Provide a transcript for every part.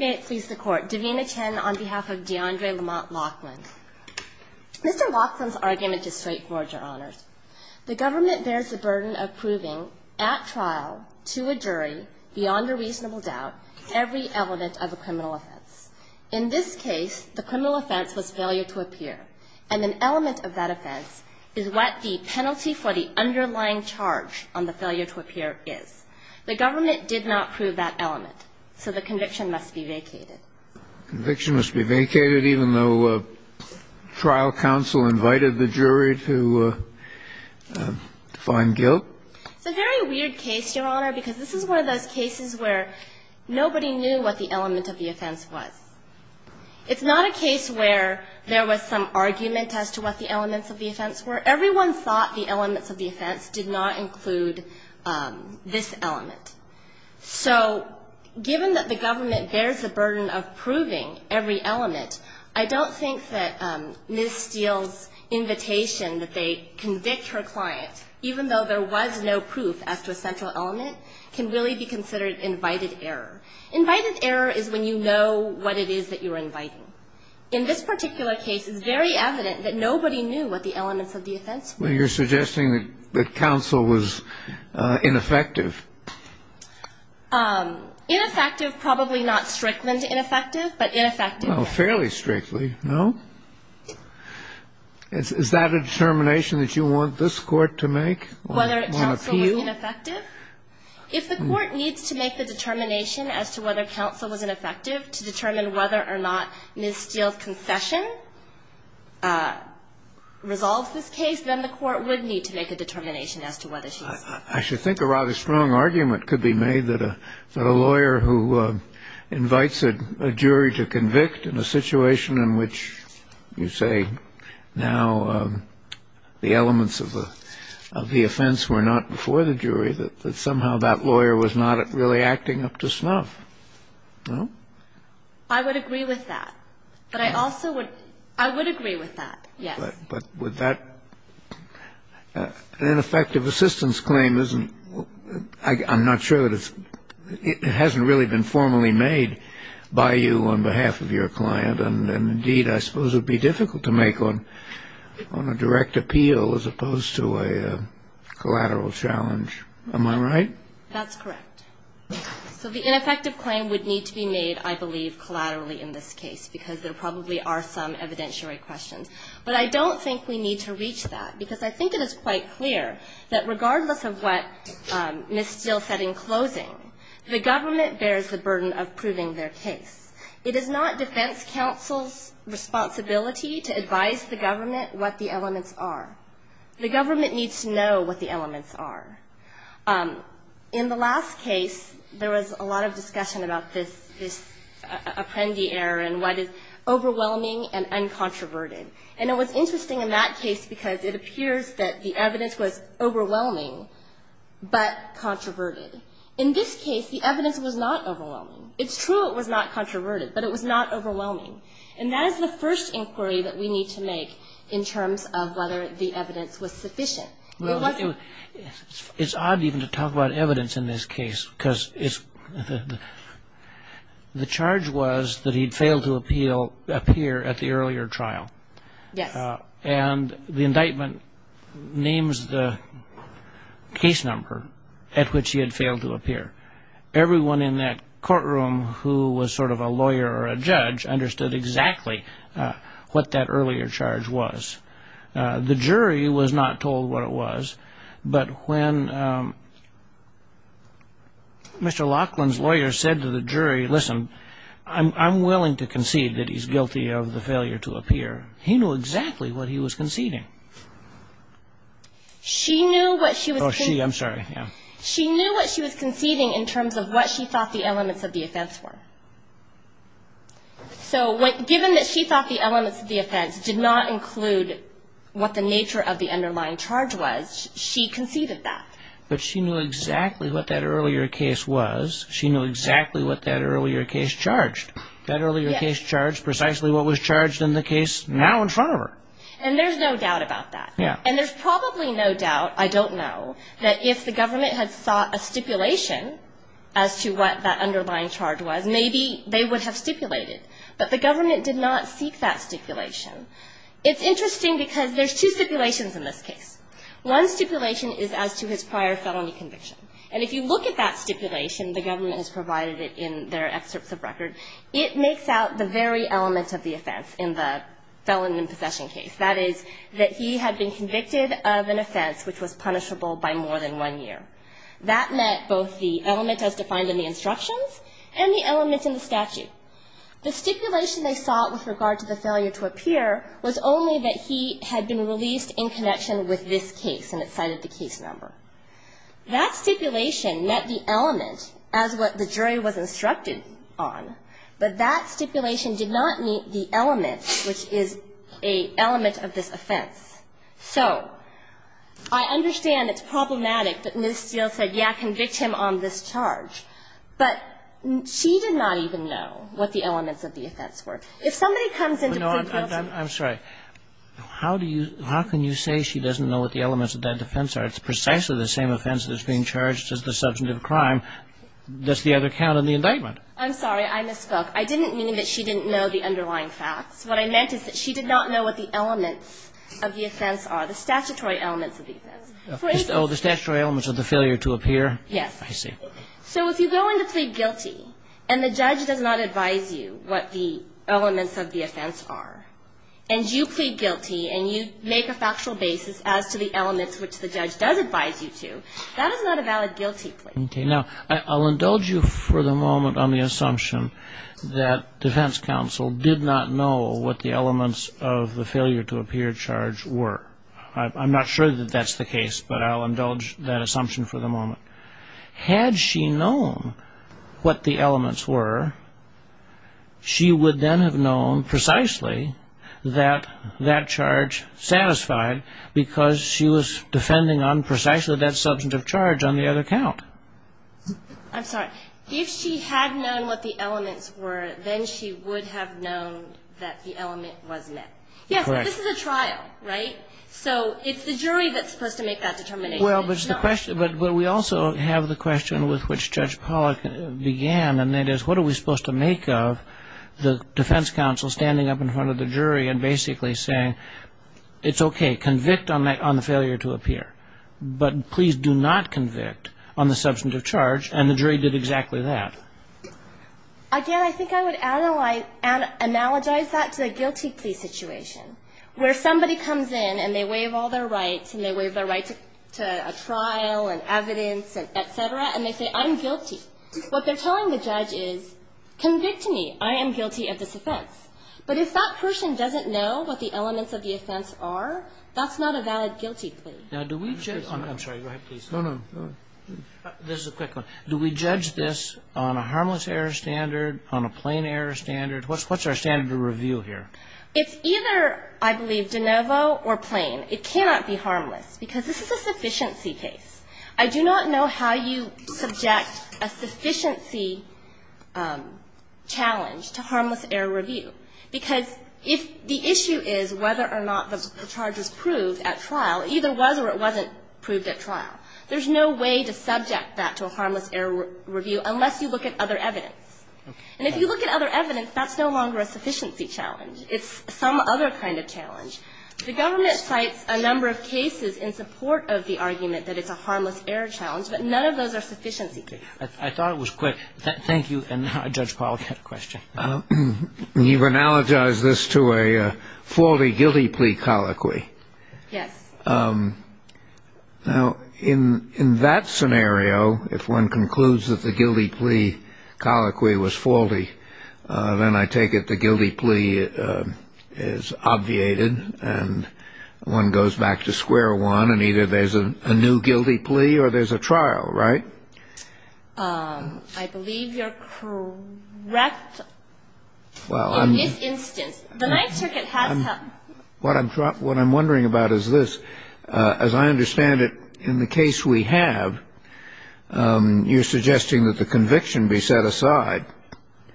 May it please the Court. Davina Chen on behalf of D'Andre Lamont Locklin. Mr. Locklin's argument is straightforward, Your Honors. The government bears the burden of proving, at trial, to a jury, beyond a reasonable doubt, every element of a criminal offense. In this case, the criminal offense was failure to appear, and an element of that offense is what the penalty for the underlying charge on the offense was. So the conviction must be vacated. Conviction must be vacated, even though trial counsel invited the jury to find guilt? It's a very weird case, Your Honor, because this is one of those cases where nobody knew what the element of the offense was. It's not a case where there was some argument as to what the elements of the offense were. Everyone thought the elements of the offense did not include this element. So given that the government bears the burden of proving every element, I don't think that Ms. Steele's invitation that they convict her client, even though there was no proof as to a central element, can really be considered invited error. Invited error is when you know what it is that you're inviting. In this particular case, it's very evident that nobody knew what the elements of the offense were. Well, you're suggesting that counsel was ineffective. Ineffective, probably not strictly ineffective, but ineffective. Fairly strictly, no? Is that a determination that you want this Court to make? Whether counsel was ineffective? If the Court needs to make the determination as to whether counsel was ineffective to determine whether or not Ms. Steele's I should think a rather strong argument could be made that a lawyer who invites a jury to convict in a situation in which you say now the elements of the offense were not before the jury, that somehow that lawyer was not really acting up to snuff. No? I would agree with that. But I also would – I would agree with that, yes. But would that – an ineffective assistance claim isn't – I'm not sure that it's – it hasn't really been formally made by you on behalf of your client. And, indeed, I suppose it would be difficult to make on a direct appeal as opposed to a collateral challenge. Am I right? That's correct. So the ineffective claim would need to be made, I believe, collaterally in this case, because there probably are some evidentiary questions. But I don't think we need to reach that, because I think it is quite clear that regardless of what Ms. Steele said in closing, the government bears the burden of proving their case. It is not defense counsel's responsibility to advise the government what the elements are. The government needs to know what the elements are. In the last case, there was a lot of discussion about this Apprendi error and what is overwhelming and uncontroverted. And it was interesting in that case because it appears that the evidence was overwhelming but controverted. In this case, the evidence was not overwhelming. It's true it was not controverted, but it was not overwhelming. And that is the first inquiry that we need to make in terms of whether the evidence was sufficient. It's odd even to talk about evidence in this case, because the charge was that he had failed to appear at the earlier trial. Yes. And the indictment names the case number at which he had failed to appear. Everyone in that courtroom who was sort of a lawyer or a judge understood exactly what that earlier charge was. The jury was not told what it was. But when Mr. Laughlin's lawyer said to the jury, listen, I'm willing to concede that he's guilty of the failure to appear, he knew exactly what he was conceding. She knew what she was conceding in terms of what she thought the elements of the offense were. So given that she thought the elements of the offense did not include what the nature of the underlying charge was, she conceded that. But she knew exactly what that earlier case was. She knew exactly what that earlier case charged. That earlier case charged precisely what was charged in the case now in front of her. And there's no doubt about that. And there's probably no doubt, I don't know, that if the government had sought a stipulation as to what that underlying charge was, maybe they would have stipulated. But the government did not seek that stipulation. It's interesting because there's two stipulations in this case. One stipulation is as to his prior felony conviction. And if you look at that stipulation, the government has provided it in their excerpts of record, it makes out the very elements of the offense in the felon in possession case. That is that he had been convicted of an offense which was punishable by more than one year. That meant both the element as defined in the instructions and the element in the statute. The stipulation they sought with regard to the failure to appear was only that he had been released in connection with this case, and it cited the case number. That stipulation met the element as what the jury was instructed on, but that stipulation did not meet the element which is an element of this offense. So I understand it's problematic that Ms. Steele said, yeah, convict him on this charge. But she did not even know what the elements of the offense were. If somebody comes in to prove guilty. Kagan How can you say she doesn't know what the elements of that offense are? It's precisely the same offense that's being charged as the substantive crime. Does the other count in the indictment? I'm sorry. I misspoke. I didn't mean that she didn't know the underlying facts. What I meant is that she did not know what the elements of the offense are, the statutory elements of the offense. Oh, the statutory elements of the failure to appear? Yes. I see. So if you go in to plead guilty and the judge does not advise you what the elements of the offense are, and you plead guilty and you make a factual basis as to the elements which the judge does advise you to, that is not a valid guilty plea. Okay. Now, I'll indulge you for the moment on the assumption that defense counsel did not know what the elements of the failure to appear charge were. I'm not sure that that's the case, but I'll indulge that assumption for the moment. Had she known what the elements were, she would then have known precisely that that charge satisfied because she was defending on precisely that substantive charge on the other count. I'm sorry. If she had known what the elements were, then she would have known that the element was met. Correct. Yes, but this is a trial, right? So it's the jury that's supposed to make that determination. Well, but we also have the question with which Judge Pollack began, and that is what are we supposed to make of the defense counsel standing up in front of the jury and basically saying it's okay, convict on the failure to appear, but please do not convict on the substantive charge, and the jury did exactly that. Again, I think I would analogize that to a guilty plea situation where somebody comes in and they waive all their rights, and they waive their right to a trial and evidence, et cetera, and they say, I'm guilty. What they're telling the judge is, convict me. I am guilty of this offense. But if that person doesn't know what the elements of the offense are, that's not a valid guilty plea. Now, do we judge them? I'm sorry. Go ahead, please. No, no. This is a quick one. Do we judge this on a harmless error standard, on a plain error standard? What's our standard of review here? It's either, I believe, de novo or plain. It cannot be harmless, because this is a sufficiency case. I do not know how you subject a sufficiency challenge to harmless error review. Because if the issue is whether or not the charge was proved at trial, it either was or it wasn't proved at trial, there's no way to subject that to a harmless error review unless you look at other evidence. And if you look at other evidence, that's no longer a sufficiency challenge. It's some other kind of challenge. The government cites a number of cases in support of the argument that it's a harmless error challenge, but none of those are sufficiency cases. I thought it was quick. Thank you. And now Judge Pollack had a question. You've analogized this to a faulty guilty plea colloquy. Yes. Now, in that scenario, if one concludes that the guilty plea colloquy was faulty, then I take it the guilty plea is obviated and one goes back to square one and either there's a new guilty plea or there's a trial, right? I believe you're correct in this instance. The Ninth Circuit has had... What I'm wondering about is this. As I understand it, in the case we have, you're suggesting that the conviction be set aside.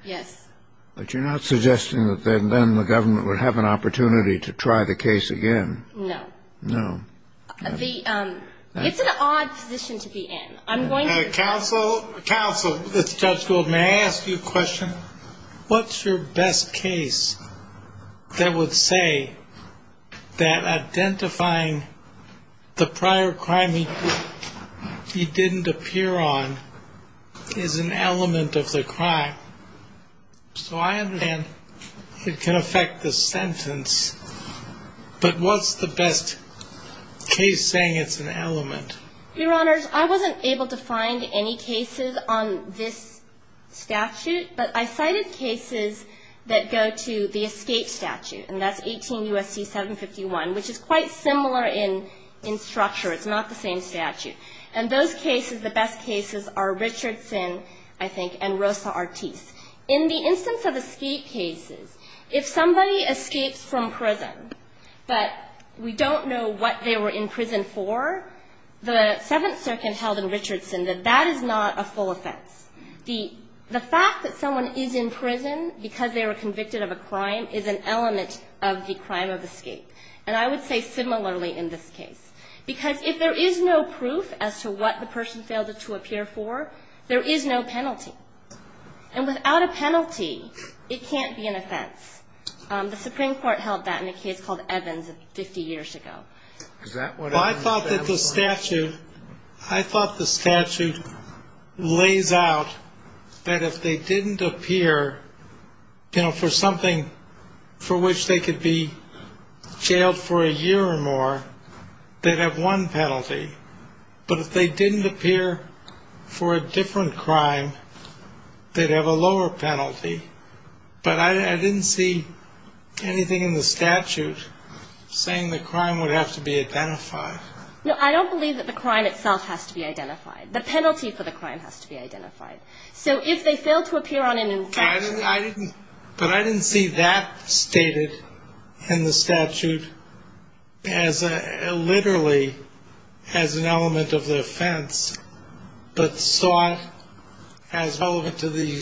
Yes. But you're not suggesting that then the government would have an opportunity to try the case again. No. No. It's an odd position to be in. I'm going to... Counsel, counsel, Judge Gould, may I ask you a question? What's your best case that would say that identifying the prior crime he didn't appear on is an element of the crime? So I understand it can affect the sentence, but what's the best case saying it's an element? Your Honors, I wasn't able to find any cases on this statute, but I cited cases that go to the escape statute, and that's 18 U.S.C. 751, which is quite similar in structure. It's not the same statute. And those cases, the best cases are Richardson, I think, and Rosa Ortiz. In the instance of escape cases, if somebody escapes from prison, but we don't know what they were in prison for, the Seventh Circuit held in Richardson that that is not a full offense. The fact that someone is in prison because they were convicted of a crime is an element of the crime of escape. And I would say similarly in this case. Because if there is no proof as to what the person failed to appear for, there is no And without a penalty, it can't be an offense. The Supreme Court held that in a case called Evans 50 years ago. Well, I thought that the statute, I thought the statute lays out that if they didn't appear, you know, for something for which they could be jailed for a year or more, they'd have one penalty. But if they didn't appear for a different crime, they'd have a lower penalty. But I didn't see anything in the statute saying the crime would have to be identified. No, I don't believe that the crime itself has to be identified. The penalty for the crime has to be identified. So if they failed to appear on an infraction... But I didn't see that stated in the statute literally as an element of the offense, but thought as relevant to the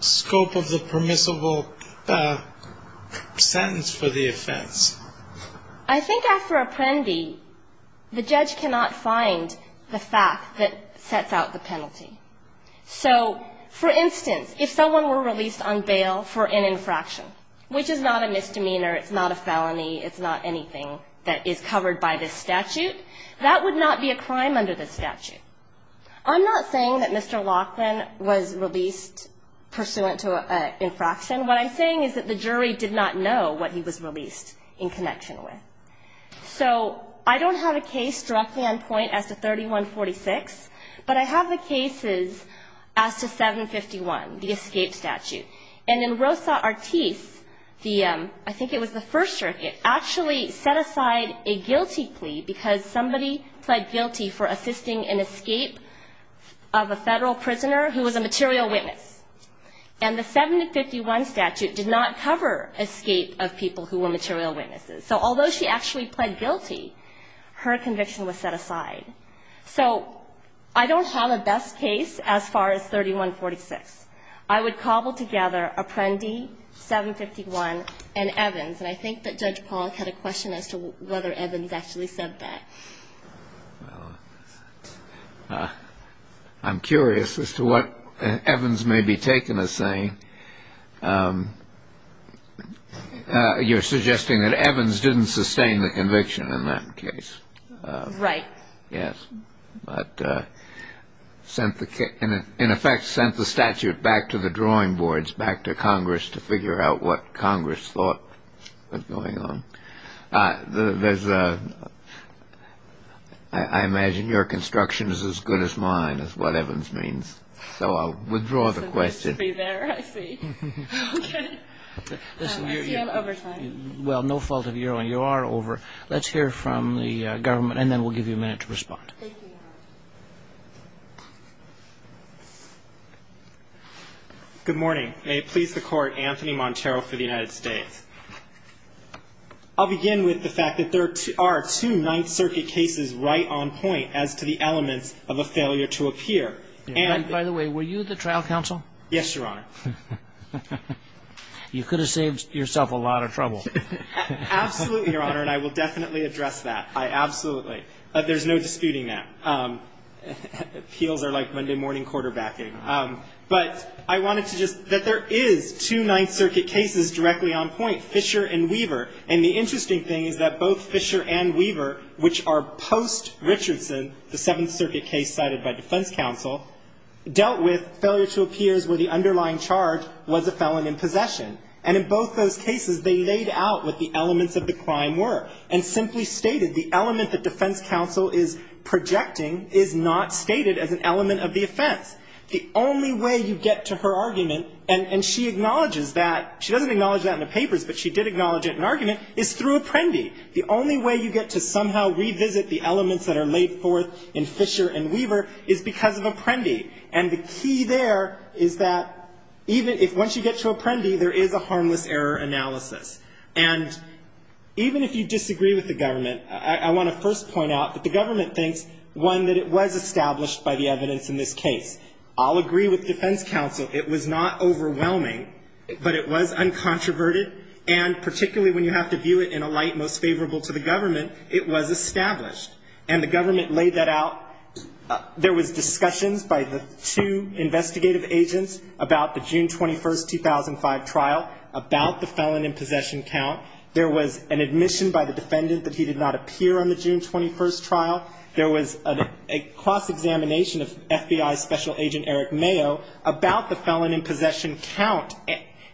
scope of the permissible sentence for the offense. I think after Apprendi, the judge cannot find the fact that sets out the penalty. So, for instance, if someone were released on bail for an infraction, which is not a misdemeanor, it's not a felony, it's not anything that is covered by this statute, that would not be a crime under this statute. I'm not saying that Mr. Laughlin was released pursuant to an infraction. What I'm saying is that the jury did not know what he was released in connection with. So I don't have a case directly on point as to 3146, but I have the cases as to 751, the escape statute. And in Rosa Artis, the ‑‑ I think it was the First Circuit, actually set aside a guilty plea because somebody pled guilty for assisting an escape of a Federal prisoner who was a material witness. And the 751 statute did not cover escape of people who were material witnesses. So although she actually pled guilty, her conviction was set aside. So I don't have a best case as far as 3146. I would cobble together Apprendi, 751, and Evans. And I think that Judge Pollack had a question as to whether Evans actually said that. Well, I'm curious as to what Evans may be taking as saying. You're suggesting that Evans didn't sustain the conviction in that case. Right. Yes. But in effect sent the statute back to the drawing boards, back to Congress to figure out what Congress thought was going on. There's a ‑‑ I imagine your construction is as good as mine is what Evans means. So I'll withdraw the question. It's good to be there. I see. Okay. I see I'm over time. Well, no fault of your own. You are over. Let's hear from the government, and then we'll give you a minute to respond. Thank you. Good morning. May it please the Court. Anthony Montero for the United States. I'll begin with the fact that there are two Ninth Circuit cases right on point as to the elements of a failure to appear. By the way, were you the trial counsel? Yes, Your Honor. You could have saved yourself a lot of trouble. Absolutely, Your Honor, and I will definitely address that. I absolutely ‑‑ there's no disputing that. Appeals are like Monday morning quarterbacking. But I wanted to just ‑‑ that there is two Ninth Circuit cases directly on point, Fisher and Weaver. And the interesting thing is that both Fisher and Weaver, which are post‑Richardson, the Seventh Circuit case cited by defense counsel, dealt with failure to appear where the underlying charge was a felon in possession. And in both those cases, they laid out what the elements of the crime were and simply stated the element that defense counsel is projecting is not stated as an element of the offense. The only way you get to her argument, and she acknowledges that, she doesn't acknowledge that in the papers, but she did acknowledge it in argument, is through Apprendi. The only way you get to somehow revisit the elements that are laid forth in Fisher and Weaver is because of Apprendi. And the key there is that even if, once you get to Apprendi, there is a harmless error analysis. And even if you disagree with the government, I want to first point out that the government thinks, one, that it was established by the evidence in this case. I'll agree with defense counsel. It was not overwhelming, but it was uncontroverted. And particularly when you have to view it in a light most favorable to the government, it was established. And the government laid that out. There was discussions by the two investigative agents about the June 21, 2005 trial, about the felon in possession count. There was an admission by the defendant that he did not appear on the June 21 trial. There was a cross-examination of FBI Special Agent Eric Mayo about the felon in possession count.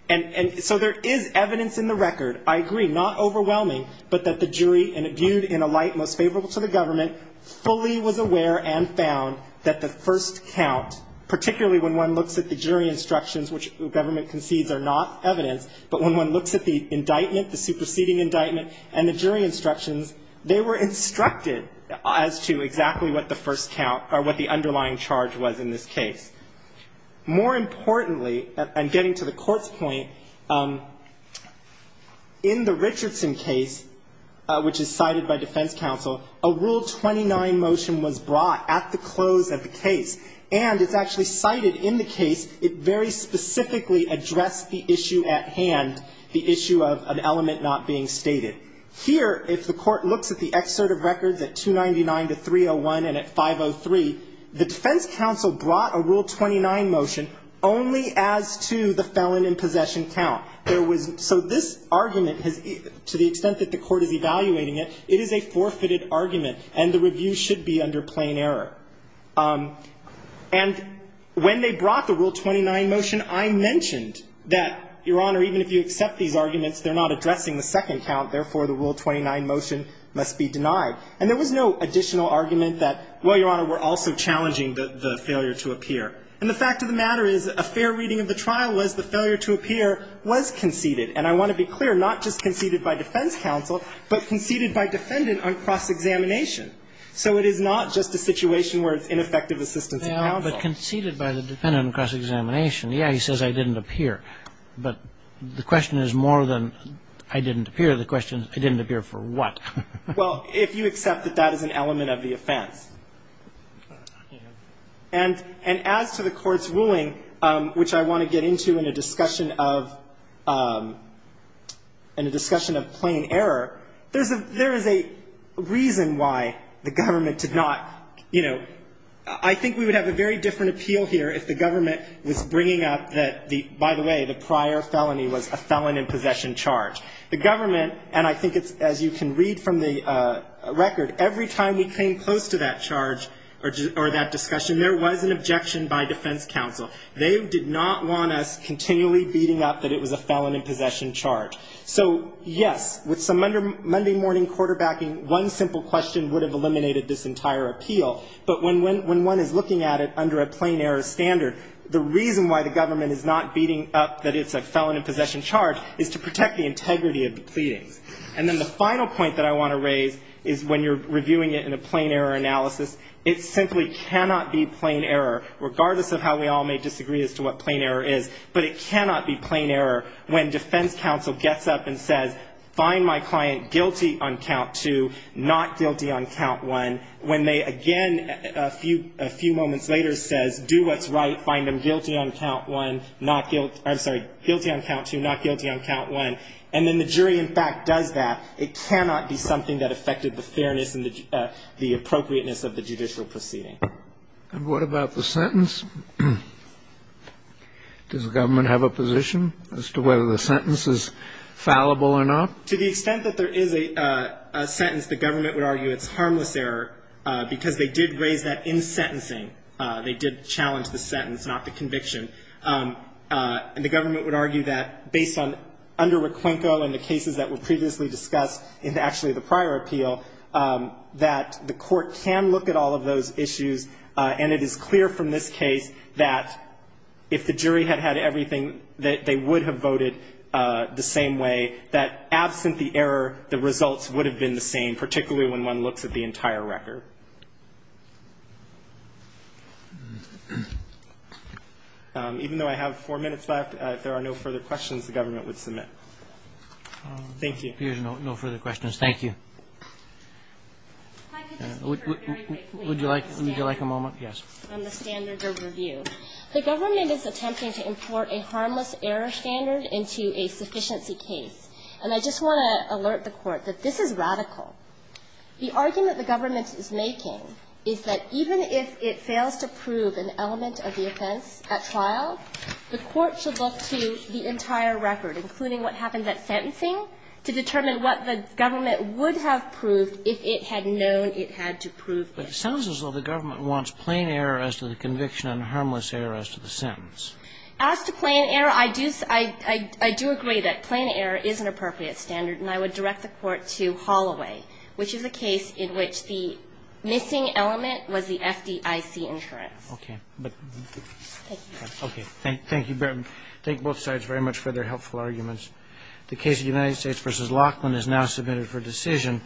And so there is evidence in the record, I agree, not overwhelming, but that the jury, viewed in a light most favorable to the government, fully was aware and found that the first count, particularly when one looks at the jury instructions, which the government concedes are not evidence, but when one looks at the indictment, the superseding indictment, and the jury instructions, they were instructed as to exactly what the first count or what the underlying charge was in this case. More importantly, and getting to the Court's point, in the Richardson case, which is cited by defense counsel, a Rule 29 motion was brought at the close of the case. And it's actually cited in the case. It very specifically addressed the issue at hand, the issue of an element not being stated. Here, if the Court looks at the excerpt of records at 299 to 301 and at 503, the defense counsel brought a Rule 29 motion only as to the felon in possession count. So this argument, to the extent that the Court is evaluating it, it is a forfeited argument, and the review should be under plain error. And when they brought the Rule 29 motion, I mentioned that, Your Honor, even if you accept these arguments, they're not addressing the second count. Therefore, the Rule 29 motion must be denied. And there was no additional argument that, well, Your Honor, we're also challenging the failure to appear. And the fact of the matter is, a fair reading of the trial was the failure to appear was conceded. And I want to be clear, not just conceded by defense counsel, but conceded by defendant on cross-examination. So it is not just a situation where it's ineffective assistance of counsel. But conceded by the defendant on cross-examination, yeah, he says I didn't appear. But the question is more than I didn't appear. The question is, I didn't appear for what? Well, if you accept that that is an element of the offense. And as to the Court's ruling, which I want to get into in a discussion of plain error, there is a reason why the government did not, you know, I think we would have a very different appeal here if the government was bringing up that the, by the way, the prior felony was a felon in possession charge. The government, and I think it's, as you can read from the record, every time we came close to that charge, or that discussion, there was an objection by defense counsel. They did not want us continually beating up that it was a felon in possession charge. So, yes, with some Monday morning quarterbacking, one simple question would have eliminated this entire appeal. But when one is looking at it under a plain error standard, the reason why the government is not beating up that it's a felon in possession charge is to protect the integrity of the pleadings. And then the final point that I want to raise is when you're reviewing it in a plain error analysis, it simply cannot be plain error, regardless of how we all may disagree as to what plain error is. But it cannot be plain error when defense counsel gets up and says, find my client guilty on count two, not guilty on count one. When they, again, a few moments later says, do what's right, find him guilty on count one, not guilty, I'm sorry, guilty on count two, not guilty on count one. And then the jury, in fact, does that. It cannot be something that affected the fairness and the appropriateness of the judicial proceeding. And what about the sentence? Does the government have a position as to whether the sentence is fallible or not? To the extent that there is a sentence, the government would argue it's harmless error, because they did raise that in sentencing. They did challenge the sentence, not the conviction. And the government would argue that, based on under Requenco and the cases that were previously discussed in actually the prior appeal, that the court can look at all of those issues. And it is clear from this case that if the jury had had everything, that they would have voted the same way, that absent the error, the results would have been the same, particularly when one looks at the entire record. Even though I have four minutes left, if there are no further questions, the government would submit. Thank you. Roberts. Here's no further questions. Thank you. Would you like a moment? Yes. On the standards of review, the government is attempting to import a harmless error standard into a sufficiency case. And I just want to alert the Court that this is radical. The argument the government is making is that even if it fails to prove an element of the offense at trial, the Court should look to the entire record, including what happens at sentencing, to determine what the government would have proved if it had known it had to prove it. But it sounds as though the government wants plain error as to the conviction and harmless error as to the sentence. As to plain error, I do agree that plain error is an appropriate standard, and I would like to direct the Court to Holloway, which is a case in which the missing element was the FDIC insurance. Okay. Thank you. Okay. Thank you both sides very much for their helpful arguments. The case of the United States v. Laughlin is now submitted for decision.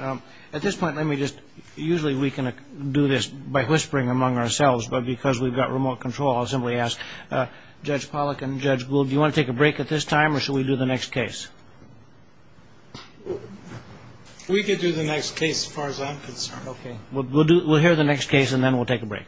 At this point, let me just, usually we can do this by whispering among ourselves, but because we've got remote control, I'll simply ask Judge Pollack and Judge Gould, do you want to take a break at this time, or should we do the next case? We could do the next case as far as I'm concerned. Okay. We'll hear the next case, and then we'll take a break.